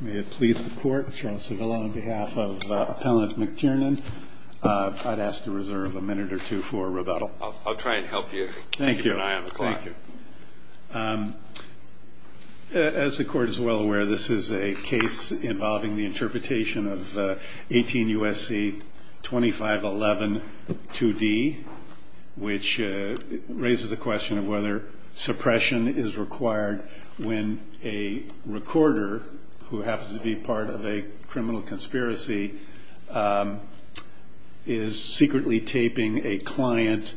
May it please the court, Charles Cervillo on behalf of Appellant McTiernan, I'd ask to reserve a minute or two for rebuttal. I'll try and help you. Thank you. Keep an eye on the clock. Thank you. As the court is well aware, this is a case involving the interpretation of 18 U.S.C. 2511 2D, which raises the question of whether suppression is required when a recorder who happens to be part of a criminal conspiracy is secretly taping a client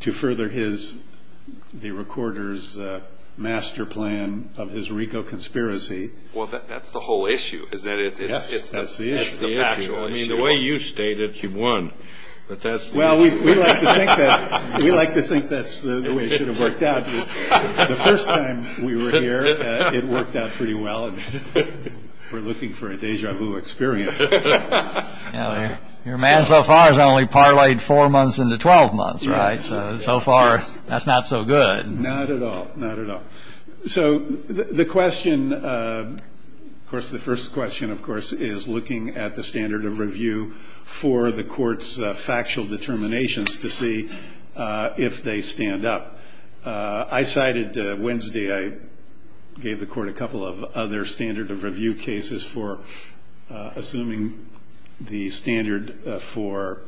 to further the recorder's master plan of his RICO conspiracy. Well, that's the whole issue. Yes, that's the issue. I mean, the way you state it, you've won. Well, we like to think that's the way it should have worked out. The first time we were here, it worked out pretty well. We're looking for a deja vu experience. Your man so far has only parlayed four months into 12 months, right? So far, that's not so good. Not at all. Not at all. So the question, of course, the first question, of course, is looking at the standard of review for the court's factual determinations to see if they stand up. I cited Wednesday I gave the court a couple of other standard of review cases for assuming the standard for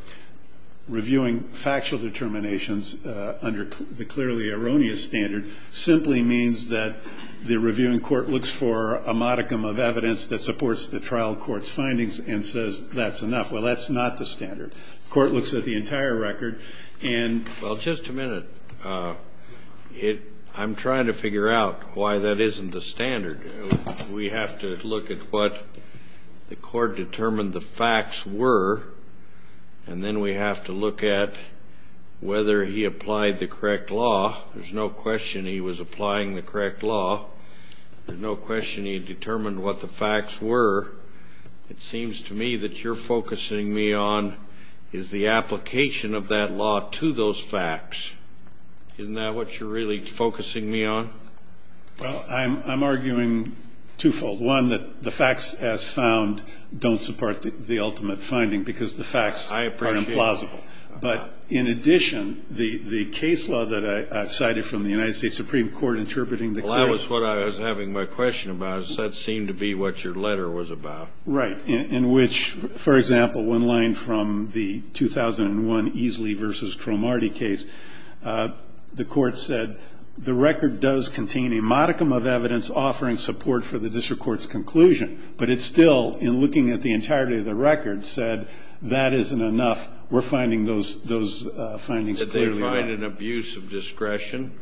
reviewing factual determinations under the clearly erroneous standard simply means that the reviewing court looks for a modicum of evidence that supports the trial court's findings and says that's enough. Well, that's not the standard. The court looks at the entire record and Well, just a minute. I'm trying to figure out why that isn't the standard. We have to look at what the court determined the facts were, and then we have to look at whether he applied the correct law. There's no question he was applying the correct law. There's no question he determined what the facts were. It seems to me that you're focusing me on is the application of that law to those facts. Isn't that what you're really focusing me on? Well, I'm arguing twofold. One, that the facts as found don't support the ultimate finding because the facts are implausible. I appreciate that. But in addition, the case law that I cited from the United States Supreme Court interpreting the Well, that was what I was having my question about. That seemed to be what your letter was about. Right, in which, for example, one line from the 2001 Easley v. Cromartie case, the court said the record does contain a modicum of evidence offering support for the district court's conclusion. But it still, in looking at the entirety of the record, said that isn't enough. We're finding those findings clearly wrong. Did they find an abuse of discretion?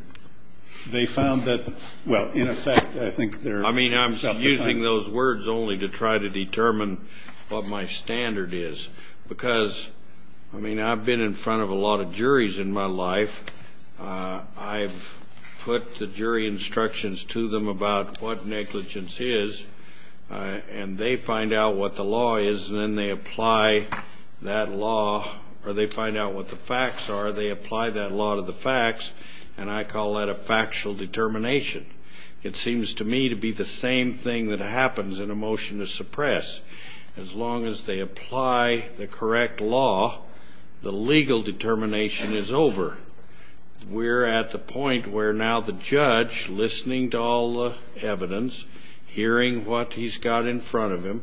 They found that, well, in effect, I think they're I mean, I'm using those words only to try to determine what my standard is, because, I mean, I've been in front of a lot of juries in my life. I've put the jury instructions to them about what negligence is, and they find out what the law is, and then they apply that law, or they find out what the facts are. They apply that law to the facts, and I call that a factual determination. It seems to me to be the same thing that happens in a motion to suppress. As long as they apply the correct law, the legal determination is over. We're at the point where now the judge, listening to all the evidence, hearing what he's got in front of him,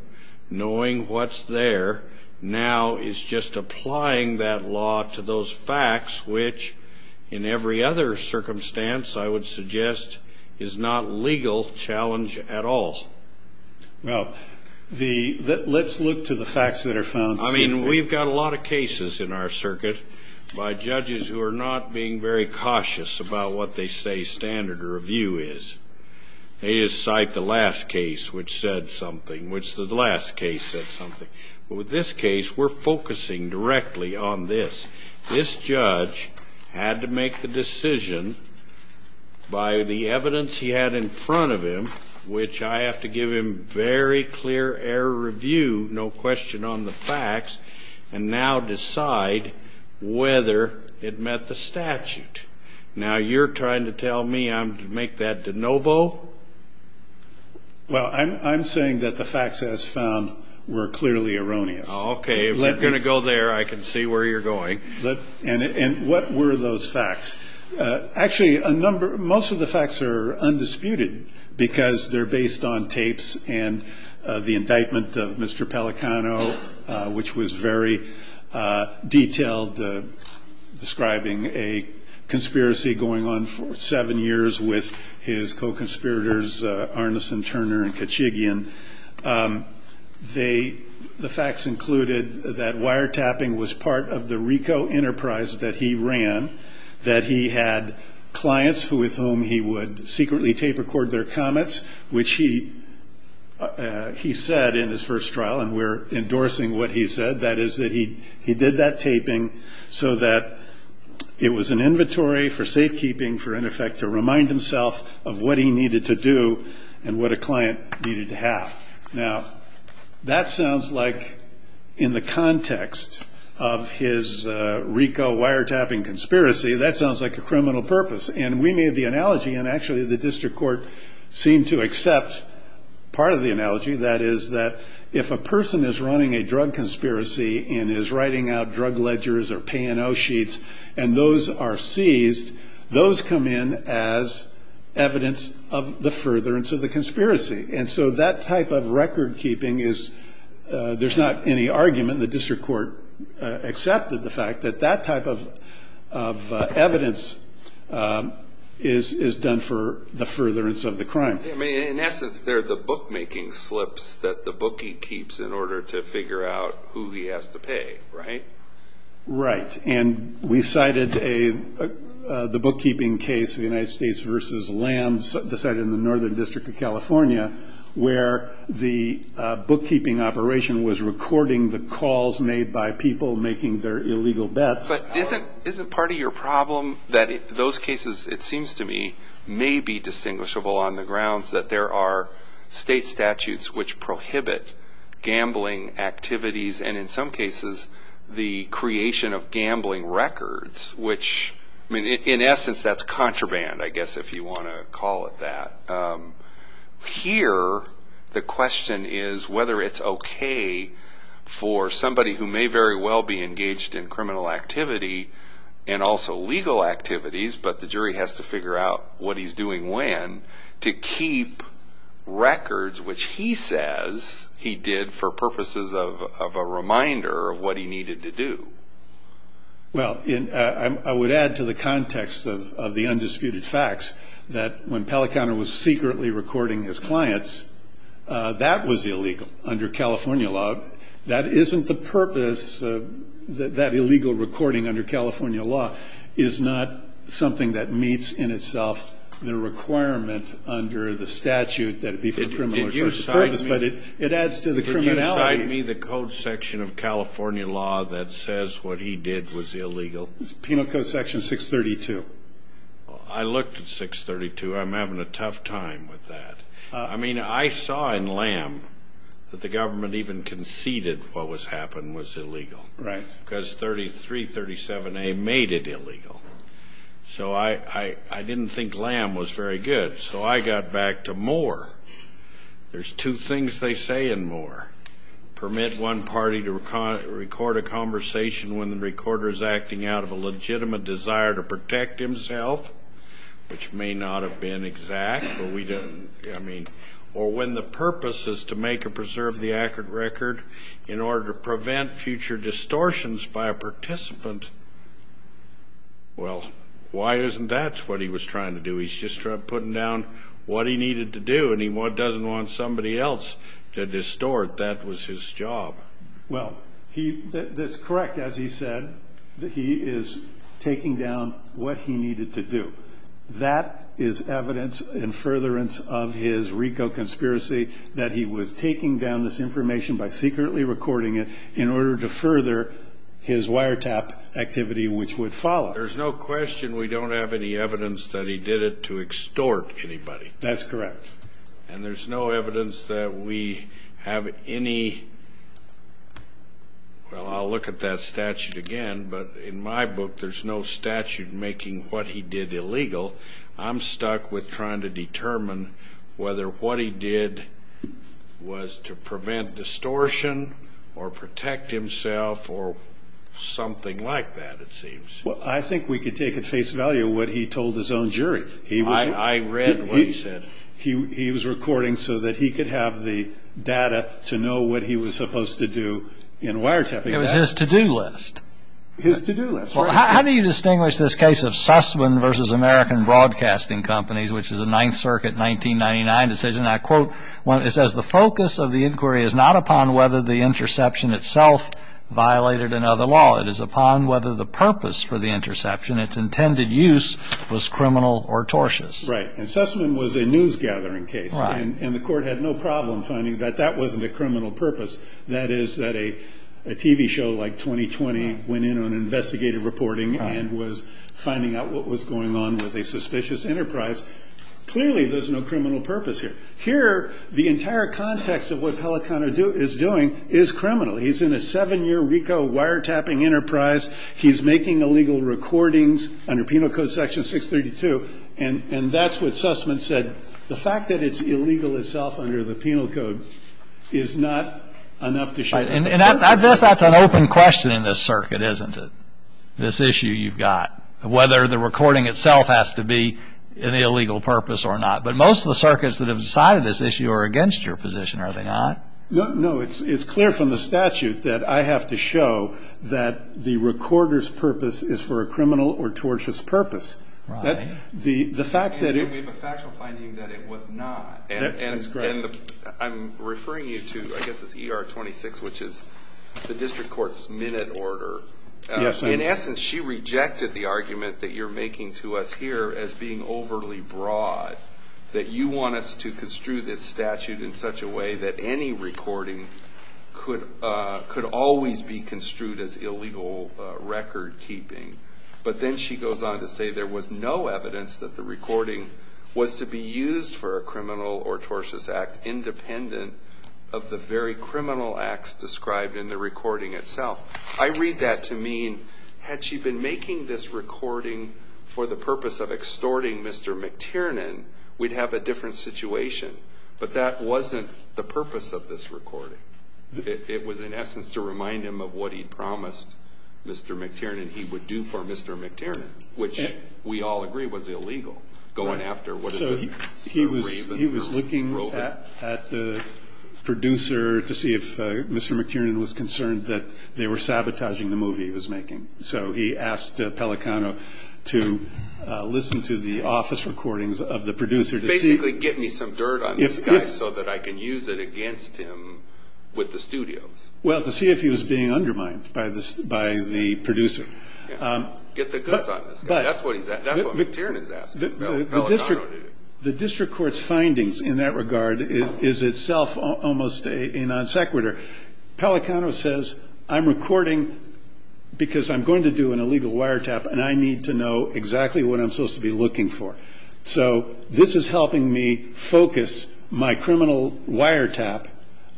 knowing what's there, now is just applying that law to those facts, which in every other circumstance, I would suggest, is not legal challenge at all. Well, let's look to the facts that are found. I mean, we've got a lot of cases in our circuit by judges who are not being very cautious about what they say standard review is. They just cite the last case which said something, which the last case said something. But with this case, we're focusing directly on this. This judge had to make the decision by the evidence he had in front of him, which I have to give him very clear error review, no question on the facts, and now decide whether it met the statute. Now, you're trying to tell me I'm to make that de novo? Well, I'm saying that the facts as found were clearly erroneous. Now, okay, if you're going to go there, I can see where you're going. And what were those facts? Actually, a number of them, most of the facts are undisputed because they're based on tapes and the indictment of Mr. Pelicano, which was very detailed, describing a conspiracy going on for seven years with his co-conspirators Arneson, Turner, and Kachigian. The facts included that wiretapping was part of the RICO enterprise that he ran, that he had clients with whom he would secretly tape record their comments, which he said in his first trial, and we're endorsing what he said, that is that he did that taping so that it was an inventory for safekeeping for, in effect, to remind himself of what he needed to do and what a client needed to have. Now, that sounds like, in the context of his RICO wiretapping conspiracy, that sounds like a criminal purpose. And we made the analogy, and actually the district court seemed to accept part of the analogy, that is that if a person is running a drug conspiracy and is writing out drug ledgers or P&O sheets and those are seized, those come in as evidence of the furtherance of the conspiracy. And so that type of record keeping is, there's not any argument, the district court accepted the fact that that type of evidence is done for the furtherance of the crime. In essence, they're the bookmaking slips that the bookie keeps in order to figure out who he has to pay, right? Right. And we cited the bookkeeping case, the United States versus Lamb, the site in the Northern District of California, where the bookkeeping operation was recording the calls made by people making their illegal bets. But isn't part of your problem that those cases, it seems to me, may be distinguishable on the grounds that there are state statutes which prohibit gambling activities, and in some cases, the creation of gambling records, which in essence, that's contraband, I guess, if you want to call it that. Here, the question is whether it's okay for somebody who may very well be engaged in criminal activity and also legal activities, but the jury has to figure out what he's doing when, to keep records, which he says he did for purposes of arrest, a reminder of what he needed to do. Well, I would add to the context of the undisputed facts that when Pellicano was secretly recording his clients, that was illegal under California law. That isn't the purpose of that illegal recording under California law is not something that meets in itself the requirement under the statute that it be for criminal purposes, but it adds to the criminality. Could you cite me the code section of California law that says what he did was illegal? Penal code section 632. I looked at 632. I'm having a tough time with that. I mean, I saw in Lamb that the government even conceded what happened was illegal. Because 3337A made it illegal. So I didn't think Lamb was very good. So I got back to Moore. There's two things they say in Moore. Permit one party to record a conversation when the recorder is acting out of a legitimate desire to protect himself, which may not have been exact, but we didn't. I mean, or when the purpose is to make or preserve the accurate record in order to prevent future distortions by a participant. Well, why isn't that what he was trying to do? He's just putting down what he needed to do, and he doesn't want somebody else to distort. That was his job. Well, that's correct, as he said, that he is taking down what he needed to do. That is evidence in furtherance of his RICO conspiracy that he was taking down this information by secretly recording it in order to further his wiretap activity, which would follow. There's no question we don't have any evidence that he did it to extort anybody. That's correct. And there's no evidence that we have any. Well, I'll look at that statute again, but in my book, there's no statute making what he did illegal. I'm stuck with trying to determine whether what he did was to prevent distortion or protect himself or something like that, it seems. Well, I think we could take at face value what he told his own jury. I read what he said. He was recording so that he could have the data to know what he was supposed to do in wiretapping. It was his to-do list. His to-do list. Well, how do you distinguish this case of Sussman v. American Broadcasting Companies, which is a Ninth Circuit 1999 decision that, quote, it says, the focus of the inquiry is not upon whether the interception itself violated another law. It is upon whether the purpose for the interception, its intended use, was criminal or tortious. Right. And Sussman was a news-gathering case. Right. And the court had no problem finding that that wasn't a criminal purpose. That is, that a TV show like 20-20 went in on investigative reporting and was finding out what was going on with a suspicious enterprise. Clearly, there's no criminal purpose here. Here, the entire context of what Pellicano is doing is criminal. He's in a seven-year RICO wiretapping enterprise. He's making illegal recordings under Penal Code Section 632. And that's what Sussman said. The fact that it's illegal itself under the Penal Code is not enough to show that. And I guess that's an open question in this circuit, isn't it, this issue you've got, whether the recording itself has to be an illegal purpose or not. But most of the circuits that have decided this issue are against your position, are they not? No, it's clear from the statute that I have to show that the recorder's purpose is for a criminal or tortious purpose. Right. And we have a factual finding that it was not. And I'm referring you to, I guess it's ER 26, which is the district court's minute order. In essence, she rejected the argument that you're making to us here as being overly broad, that you want us to construe this statute in such a way that any recording could always be construed as illegal recordkeeping. But then she goes on to say there was no evidence that the recording was to be used for a criminal or tortious act independent of the very criminal acts described in the recording itself. I read that to mean, had she been making this recording for the purpose of extorting Mr. McTiernan, we'd have a different situation. But that wasn't the purpose of this recording. It was, in essence, to remind him of what he'd promised Mr. McTiernan he would do for Mr. McTiernan, which we all agree was illegal, going after what is a raven or a roving. So he was looking at the producer to see if Mr. McTiernan was concerned that they were sabotaging the movie he was making. So he asked Pelicano to listen to the office recordings of the producer to see... Basically, get me some dirt on this guy so that I can use it against him with the studios. Well, to see if he was being undermined by the producer. Get the guts on this guy. That's what McTiernan is asking Pelicano to do. The district court's findings in that regard is itself almost a non sequitur. Pelicano says, I'm recording because I'm going to do an illegal wiretap and I need to know exactly what I'm supposed to be looking for. So this is helping me focus my criminal wiretap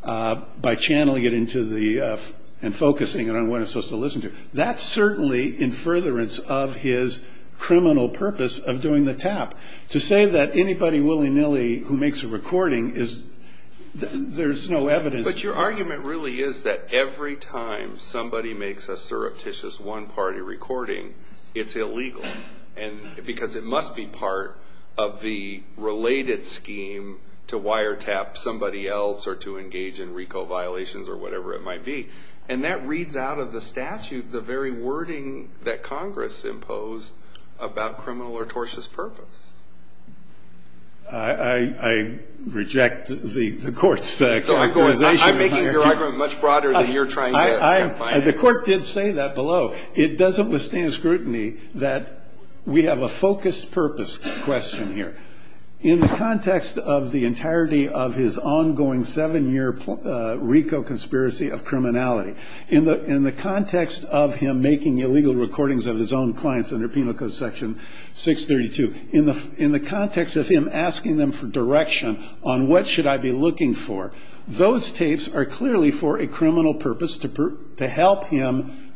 by channeling it into the... and focusing it on what I'm supposed to listen to. That's certainly in furtherance of his criminal purpose of doing the tap. To say that anybody willy-nilly who makes a recording, there's no evidence... But your argument really is that every time somebody makes a surreptitious one-party recording, it's illegal. Because it must be part of the related scheme to wiretap somebody else or to engage in RICO violations or whatever it might be. And that reads out of the statute the very wording that Congress imposed about criminal or tortious purpose. I reject the court's characterization here. I'm making your argument much broader than you're trying to define it. The court did say that below. It doesn't withstand scrutiny that we have a focused purpose question here. In the context of the entirety of his ongoing seven-year RICO conspiracy of criminality, in the context of him making illegal recordings of his own clients under Penal Code Section 632, in the context of him asking them for direction on what should I be looking for, those tapes are clearly for a criminal purpose to help him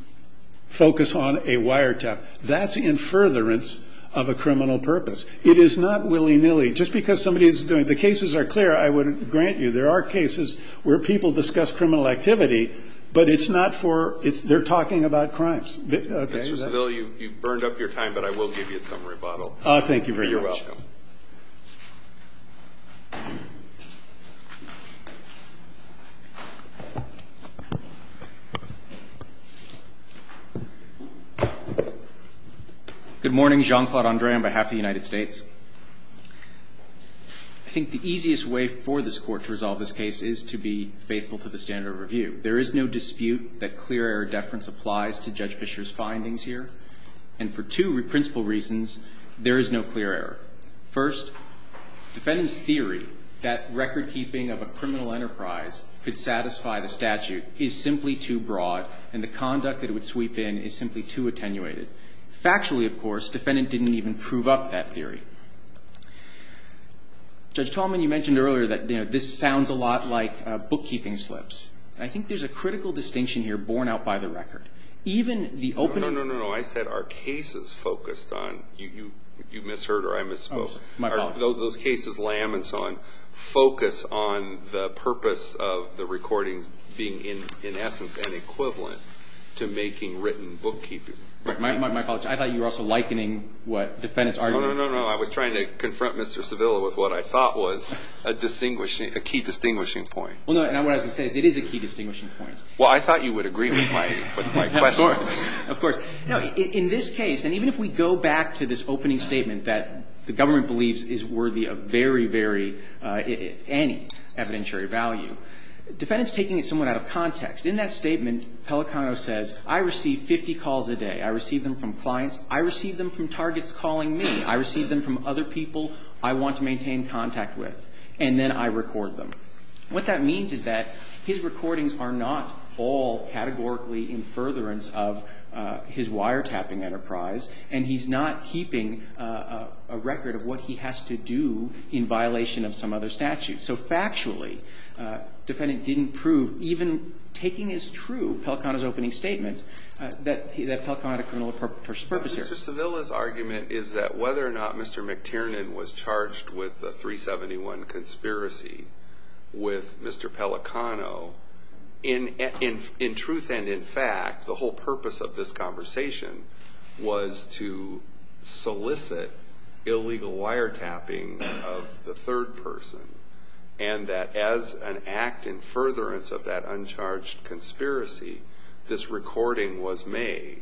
focus on a wiretap. That's in furtherance of a criminal purpose. It is not willy-nilly. Just because somebody is doing... The cases are clear, I wouldn't grant you. There are cases where people discuss criminal activity, but it's not for... They're talking about crimes. Mr. Civil, you've burned up your time, but I will give you some rebuttal. Thank you very much. You're welcome. Good morning. Jean-Claude Andre on behalf of the United States. I think the easiest way for this Court to resolve this case is to be faithful to the standard of review. There is no dispute that clear error deference applies to Judge Fischer's findings here, and for two principal reasons, there is no clear error. First, defendant's theory that recordkeeping of a criminal enterprise could satisfy the statute is simply too broad, and the conduct that it would sweep in is simply too attenuated. Factually, of course, defendant didn't even prove up that theory. Judge Tallman, you mentioned earlier that this sounds a lot like bookkeeping slips. I think there's a critical distinction here borne out by the record. Even the opening... No, no, no, no. I said are cases focused on... You misheard or I misspoke. My apologies. Those cases, Lam and so on, focus on the purpose of the recordings being, in essence, an equivalent to making written bookkeeping. My apologies. I thought you were also likening what defendant's argument... No, no, no, no. I was trying to confront Mr. Civil with what I thought was a key distinguishing point. Well, no, what I was going to say is it is a key distinguishing point. Well, I thought you would agree with my question. Of course. No, in this case, and even if we go back to this opening statement that the government believes is worthy of very, very, any evidentiary value, defendant's taking it somewhat out of context. In that statement, Pelicano says, I receive 50 calls a day. I receive them from clients. I receive them from targets calling me. I receive them from other people I want to maintain contact with. And then I record them. What that means is that his recordings are not all categorically in furtherance of his wiretapping enterprise, and he's not keeping a record of what he has to do in violation of some other statute. So, factually, defendant didn't prove, even taking as true Pelicano's opening statement, that Pelicano had a criminal purpose here. Mr. Civil's argument is that whether or not Mr. McTiernan was charged with the 371 conspiracy with Mr. Pelicano, in truth and in fact, the whole purpose of this conversation was to solicit illegal wiretapping of the third person, and that as an act in furtherance of that uncharged conspiracy, this recording was made.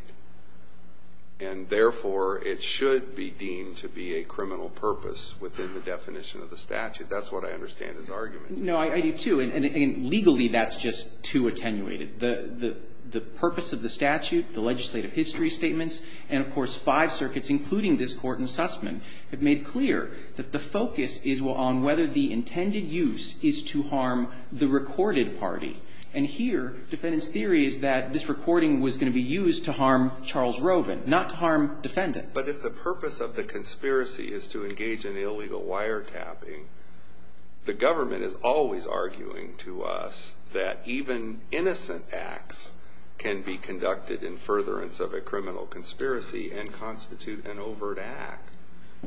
And, therefore, it should be deemed to be a criminal purpose within the definition of the statute. That's what I understand his argument. No, I do, too. And, legally, that's just too attenuated. The purpose of the statute, the legislative history statements, and, of course, five circuits, including this Court in Sussman, have made clear that the focus is on whether the intended use is to harm the recorded party. And here, defendant's theory is that this recording was going to be used to harm Charles Rovin, not to harm defendant. But if the purpose of the conspiracy is to engage in illegal wiretapping, the government is always arguing to us that even innocent acts can be conducted in furtherance of a criminal conspiracy and constitute an overt act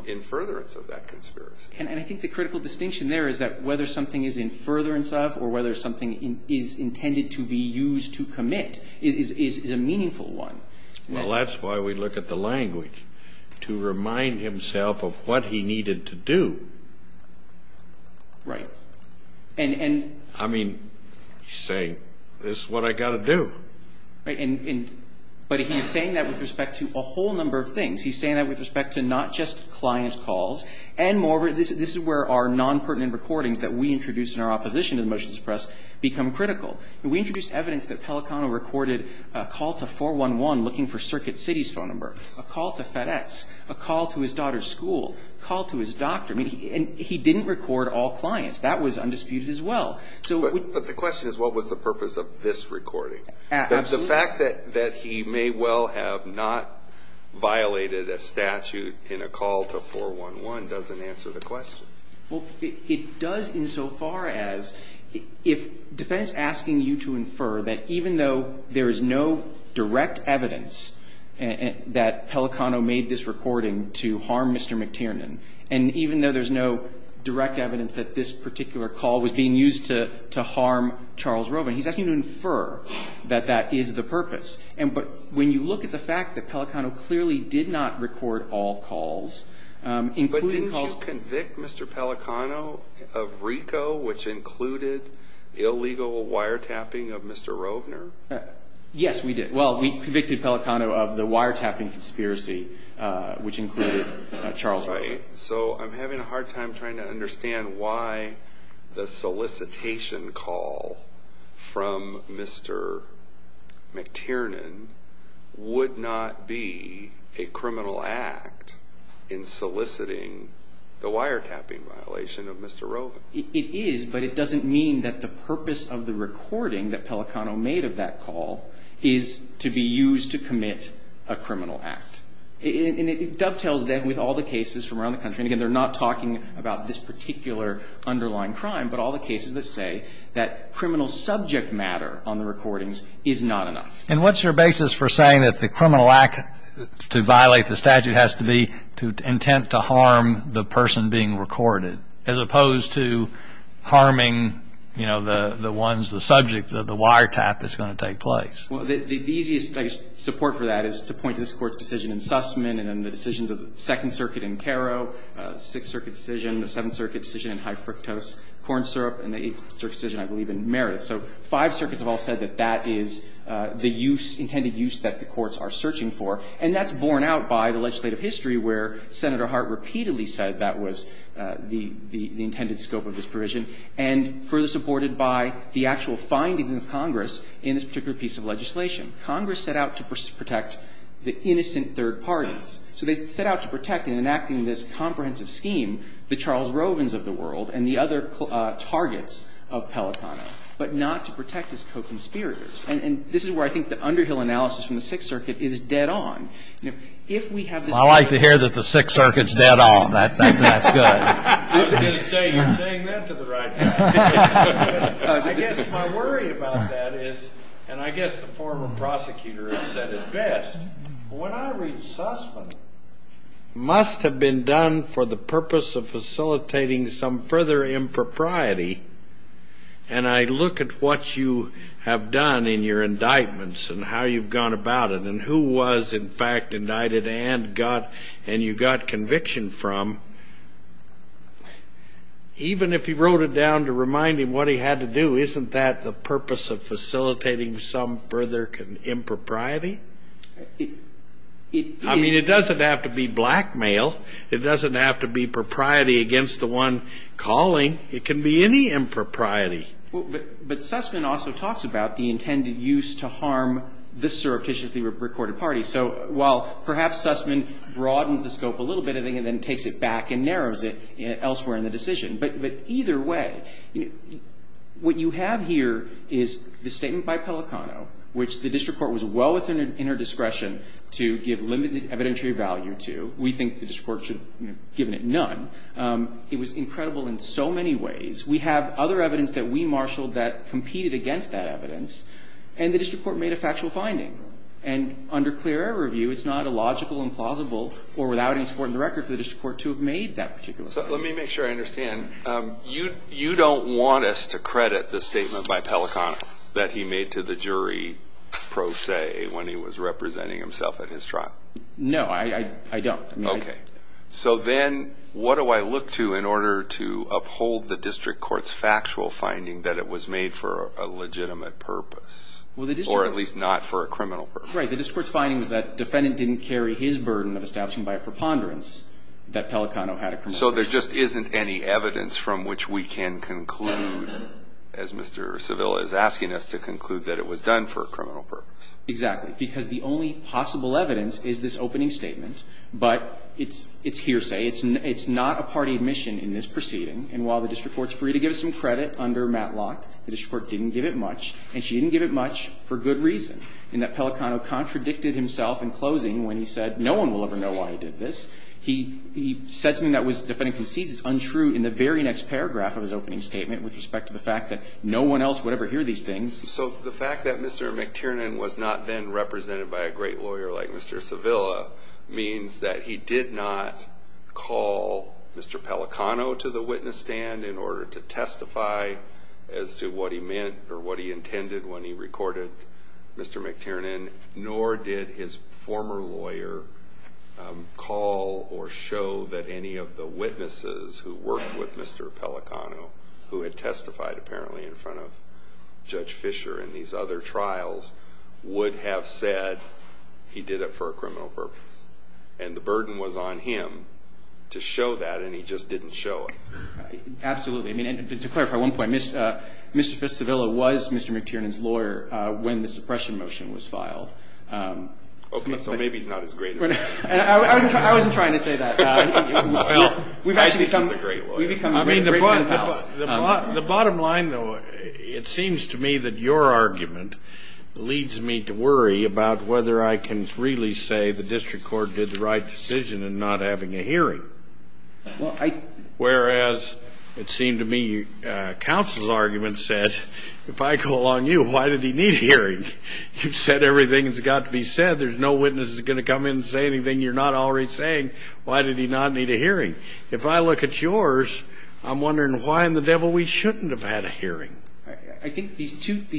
in furtherance of that conspiracy. And I think the critical distinction there is that whether something is in furtherance of or whether something is intended to be used to commit is a meaningful one. Well, that's why we look at the language, to remind himself of what he needed to do. Right. And he's saying, this is what I've got to do. Right. But he's saying that with respect to a whole number of things. He's saying that with respect to not just client calls and moreover, this is where our nonpertinent recordings that we introduced in our opposition to the motions of press become critical. We introduced evidence that Pelicano recorded a call to 411 looking for Circuit City's phone number, a call to FedEx, a call to his daughter's school, a call to his doctor, and he didn't record all clients. That was undisputed as well. But the question is, what was the purpose of this recording? Absolutely. The fact that he may well have not violated a statute in a call to 411 doesn't answer the question. Well, it does insofar as, if defense asking you to infer that even though there is no direct evidence that Pelicano made this recording to harm Mr. McTiernan, and even though there is no direct evidence that this particular call was being used to harm Charles Rovin, he's asking you to infer that that is the purpose. But when you look at the fact that Pelicano clearly did not record all calls, including all- Did you convict Mr. Pelicano of RICO, which included illegal wiretapping of Mr. Rovner? Yes, we did. Well, we convicted Pelicano of the wiretapping conspiracy, which included Charles Rovner. Right. So I'm having a hard time trying to understand why the solicitation call from Mr. McTiernan would not be a criminal act in soliciting the wiretapping violation of Mr. Rovin. It is, but it doesn't mean that the purpose of the recording that Pelicano made of that call is to be used to commit a criminal act. And it dovetails, then, with all the cases from around the country. And again, they're not talking about this particular underlying crime, but all the And what's your basis for saying that the criminal act to violate the statute has to be to intent to harm the person being recorded, as opposed to harming, you know, the ones, the subject of the wiretap that's going to take place? Well, the easiest, I guess, support for that is to point to this Court's decision in Sussman and then the decisions of the Second Circuit in Caro, Sixth Circuit decision, the Seventh Circuit decision in high fructose corn syrup, and the Eighth Circuit decision, I believe, in Meredith. So five circuits have all said that that is the use, intended use that the courts are searching for. And that's borne out by the legislative history where Senator Hart repeatedly said that was the intended scope of this provision, and further supported by the actual findings of Congress in this particular piece of legislation. Congress set out to protect the innocent third parties. So they set out to protect, in enacting this comprehensive scheme, the Charles Rovins of the world and the other targets of Pelicano. But not to protect his co-conspirators. And this is where I think the Underhill analysis from the Sixth Circuit is dead-on. You know, if we have this evidence. I like to hear that the Sixth Circuit's dead-on. That's good. I was going to say, you're saying that to the right people. I guess my worry about that is, and I guess the former prosecutor has said it best, when I read Sussman, it must have been done for the purpose of facilitating some further impropriety. And I look at what you have done in your indictments and how you've gone about it and who was, in fact, indicted and you got conviction from. Even if he wrote it down to remind him what he had to do, isn't that the purpose of facilitating some further impropriety? I mean, it doesn't have to be blackmail. It doesn't have to be propriety against the one calling. It can be any impropriety. But Sussman also talks about the intended use to harm the surreptitiously recorded parties. So while perhaps Sussman broadens the scope a little bit, I think, and then takes it back and narrows it elsewhere in the decision. But either way, what you have here is the statement by Pelicano, which the district court was well within her discretion to give limited evidentiary value to. We think the district court should have given it none. It was incredible in so many ways. We have other evidence that we marshaled that competed against that evidence, and the district court made a factual finding. And under clear air review, it's not illogical, implausible, or without any support in the record for the district court to have made that particular finding. So let me make sure I understand. You don't want us to credit the statement by Pelicano that he made to the jury pro se when he was representing himself at his trial? No, I don't. Okay. So then what do I look to in order to uphold the district court's factual finding that it was made for a legitimate purpose, or at least not for a criminal purpose? Right. The district court's finding was that the defendant didn't carry his burden of establishing by a preponderance that Pelicano had a criminal purpose. So there just isn't any evidence from which we can conclude, as Mr. Seville is asking us to conclude, that it was done for a criminal purpose? Exactly. Because the only possible evidence is this opening statement. But it's hearsay. It's not a party admission in this proceeding. And while the district court's free to give us some credit under Matlock, the district court didn't give it much. And she didn't give it much for good reason, in that Pelicano contradicted himself in closing when he said no one will ever know why he did this. He said something that was, the defendant concedes is untrue in the very next paragraph of his opening statement with respect to the fact that no one else would ever hear So the fact that Mr. McTiernan was not then represented by a great lawyer like Mr. Seville means that he did not call Mr. Pelicano to the witness stand in order to testify as to what he meant or what he intended when he recorded Mr. McTiernan. Nor did his former lawyer call or show that any of the witnesses who worked with Judge Fisher in these other trials would have said he did it for a criminal purpose. And the burden was on him to show that and he just didn't show it. Absolutely. And to clarify one point, Mr. Seville was Mr. McTiernan's lawyer when the suppression motion was filed. So maybe he's not as great as that. I wasn't trying to say that. I think he's a great lawyer. I mean, the bottom line, though, it seems to me that your argument leads me to worry about whether I can really say the district court did the right decision in not having a hearing. Whereas it seemed to me counsel's argument said, if I go along you, why did he need a hearing? You've said everything that's got to be said. There's no witness that's going to come in and say anything you're not already saying. Why did he not need a hearing? If I look at yours, I'm wondering why in the devil we shouldn't have had a hearing. I think these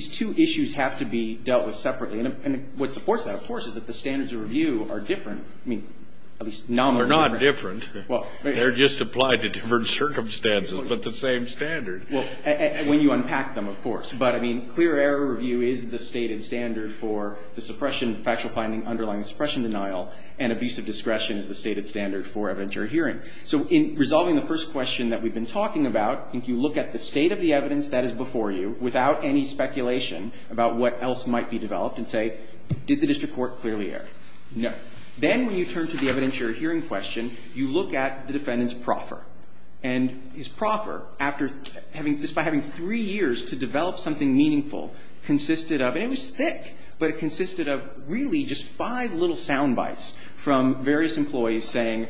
two issues have to be dealt with separately. And what supports that, of course, is that the standards of review are different. I mean, at least nominally different. They're not different. They're just applied to different circumstances, but the same standard. Well, when you unpack them, of course. But, I mean, clear error review is the stated standard for the suppression, factual finding underlying suppression denial, and abusive discretion is the stated standard for evidentiary hearing. So in resolving the first question that we've been talking about, I think you look at the state of the evidence that is before you without any speculation about what else might be developed and say, did the district court clearly err? No. Then when you turn to the evidentiary hearing question, you look at the defendant's proffer. And his proffer, after having, despite having three years to develop something meaningful, consisted of, and it was thick, but it consisted of really just five little soundbites from various employees saying,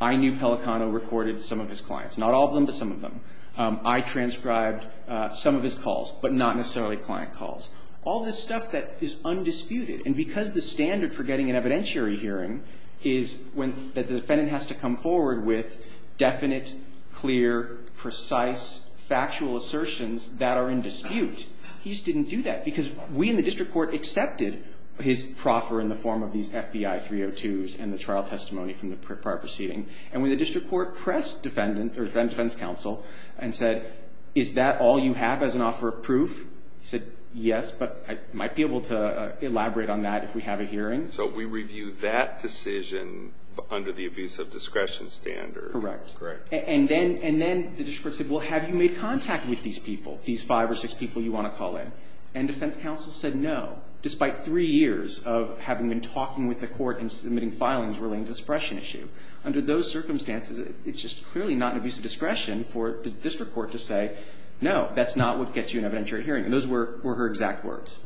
I knew Pelicano recorded some of his clients, not all of them, but some of them. I transcribed some of his calls, but not necessarily client calls. All this stuff that is undisputed. And because the standard for getting an evidentiary hearing is when the defendant has to come forward with definite, clear, precise, factual assertions that are in dispute, he just didn't do that, because we in the district court accepted his proffer in the FBI 302s and the trial testimony from the prior proceeding. And when the district court pressed defense counsel and said, is that all you have as an offer of proof? He said, yes, but I might be able to elaborate on that if we have a hearing. So we review that decision under the abuse of discretion standard. Correct. Correct. And then the district court said, well, have you made contact with these people, these five or six people you want to call in? And defense counsel said no, despite three years of having been talking with the court and submitting filings relating to the suppression issue. Under those circumstances, it's just clearly not an abuse of discretion for the district court to say, no, that's not what gets you an evidentiary hearing. And those were her exact words.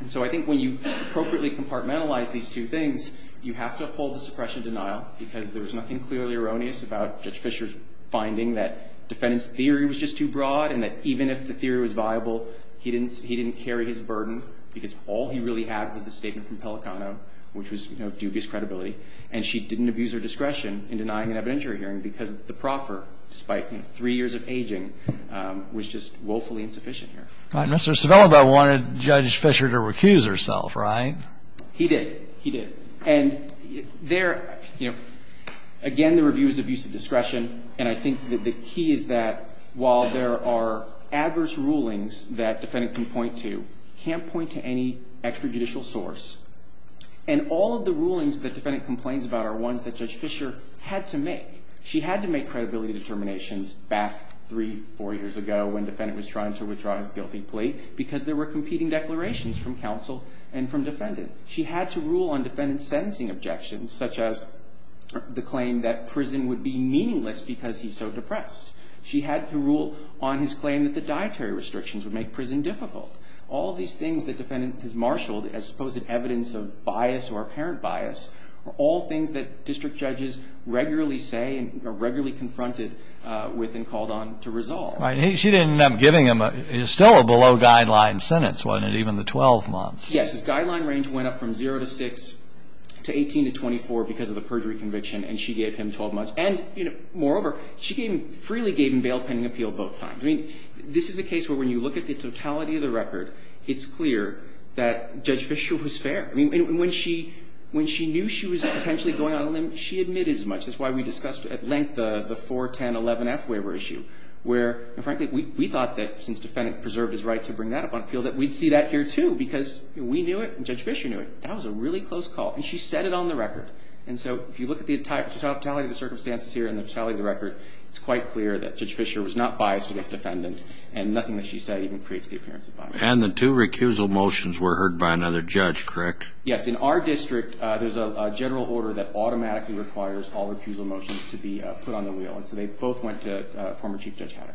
And so I think when you appropriately compartmentalize these two things, you have to uphold the suppression denial, because there was nothing clearly erroneous about Judge Fischer's finding that defendant's theory was just too broad and that even if the theory was viable, he didn't carry his burden, because all he really had was the statement from Pelicano, which was, you know, dubious credibility. And she didn't abuse her discretion in denying an evidentiary hearing because the proffer, despite, you know, three years of aging, was just woefully insufficient here. All right. Mr. Cervello, though, wanted Judge Fischer to recuse herself, right? He did. And there, you know, again, the review is abuse of discretion. And I think that the key is that while there are adverse rulings that defendant can point to, can't point to any extrajudicial source. And all of the rulings that defendant complains about are ones that Judge Fischer had to make. She had to make credibility determinations back three, four years ago when defendant was trying to withdraw his guilty plea, because there were competing declarations from counsel and from defendant. She had to rule on defendant's sentencing objections, such as the claim that prison would be meaningless because he's so depressed. She had to rule on his claim that the dietary restrictions would make prison difficult. All of these things that defendant has marshaled as supposed evidence of bias or apparent bias are all things that district judges regularly say and are regularly confronted with and called on to resolve. Right. And she didn't end up giving him a – it was still a below-guideline sentence, wasn't it, even the 12 months? Yes. His guideline range went up from zero to six to 18 to 24 because of the perjury conviction, and she gave him 12 months. And, you know, moreover, she gave him – freely gave him bail pending appeal both times. I mean, this is a case where when you look at the totality of the record, it's clear that Judge Fischer was fair. I mean, when she – when she knew she was potentially going out on a limb, she admitted as much. That's why we discussed at length the 41011F waiver issue, where, frankly, we thought that since defendant preserved his right to bring that up on appeal, that we'd see that here, too, because we knew it and Judge Fischer knew it. That was a really close call. And she said it on the record. And so if you look at the totality of the circumstances here and the totality of the record, it's quite clear that Judge Fischer was not biased against the defendant, and nothing that she said even creates the appearance of bias. And the two recusal motions were heard by another judge, correct? Yes. In our district, there's a general order that automatically requires all recusal motions to be put on the wheel, and so they both went to former Chief Judge Hatter.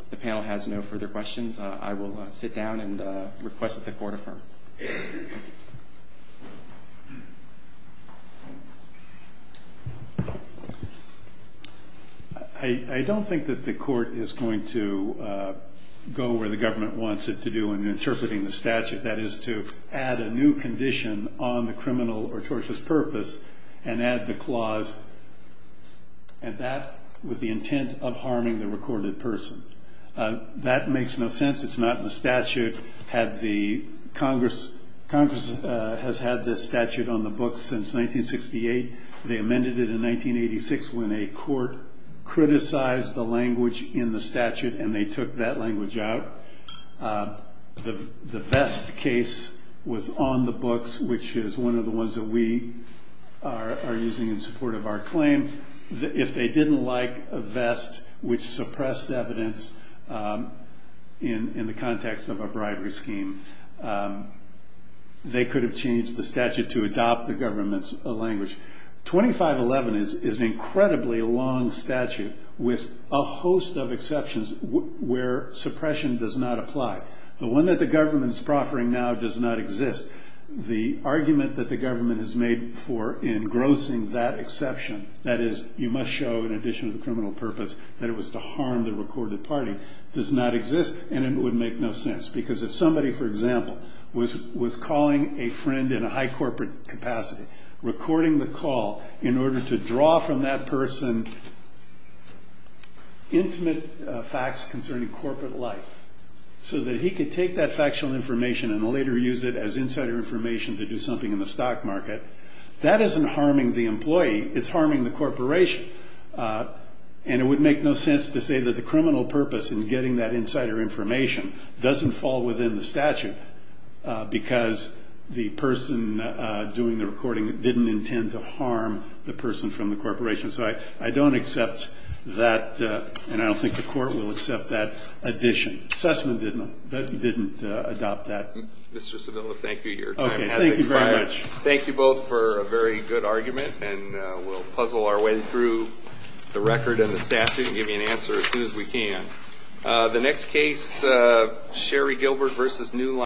If the panel has no further questions, I will sit down and request that the Court affirm. I don't think that the Court is going to go where the government wants it to do in interpreting the statute. That is to add a new condition on the criminal or tortious purpose and add the clause and that with the intent of harming the recorded person. That makes no sense. It's not in the statute. Congress has had this statute on the books since 1968. They amended it in 1986 when a court criticized the language in the statute and they took that language out. The Vest case was on the books, which is one of the ones that we are using in support of our claim. If they didn't like Vest, which suppressed evidence in the context of a bribery scheme, they could have changed the statute to adopt the government's language. 2511 is an incredibly long statute with a host of exceptions where suppression does not apply. The one that the government is proffering now does not exist. The argument that the government has made for engrossing that exception, that is you must show in addition to the criminal purpose that it was to harm the recorded party, does not exist and it would make no sense. If somebody, for example, was calling a friend in a high corporate capacity, recording the call in order to draw from that person intimate facts concerning corporate life so that he could take that factual information and later use it as insider information to do something in the stock market, that isn't harming the employee. It's harming the corporation. And it would make no sense to say that the criminal purpose in getting that insider information doesn't fall within the statute because the person doing the recording didn't intend to harm the person from the corporation. So I don't accept that and I don't think the court will accept that addition. Sussman didn't adopt that. Mr. Savilla, thank you. Your time has expired. Thank you very much. Thank you both for a very good argument and we'll puzzle our way through the record and the statute and give you an answer as soon as we can. The next case, Sherry Gilbert v. New Line.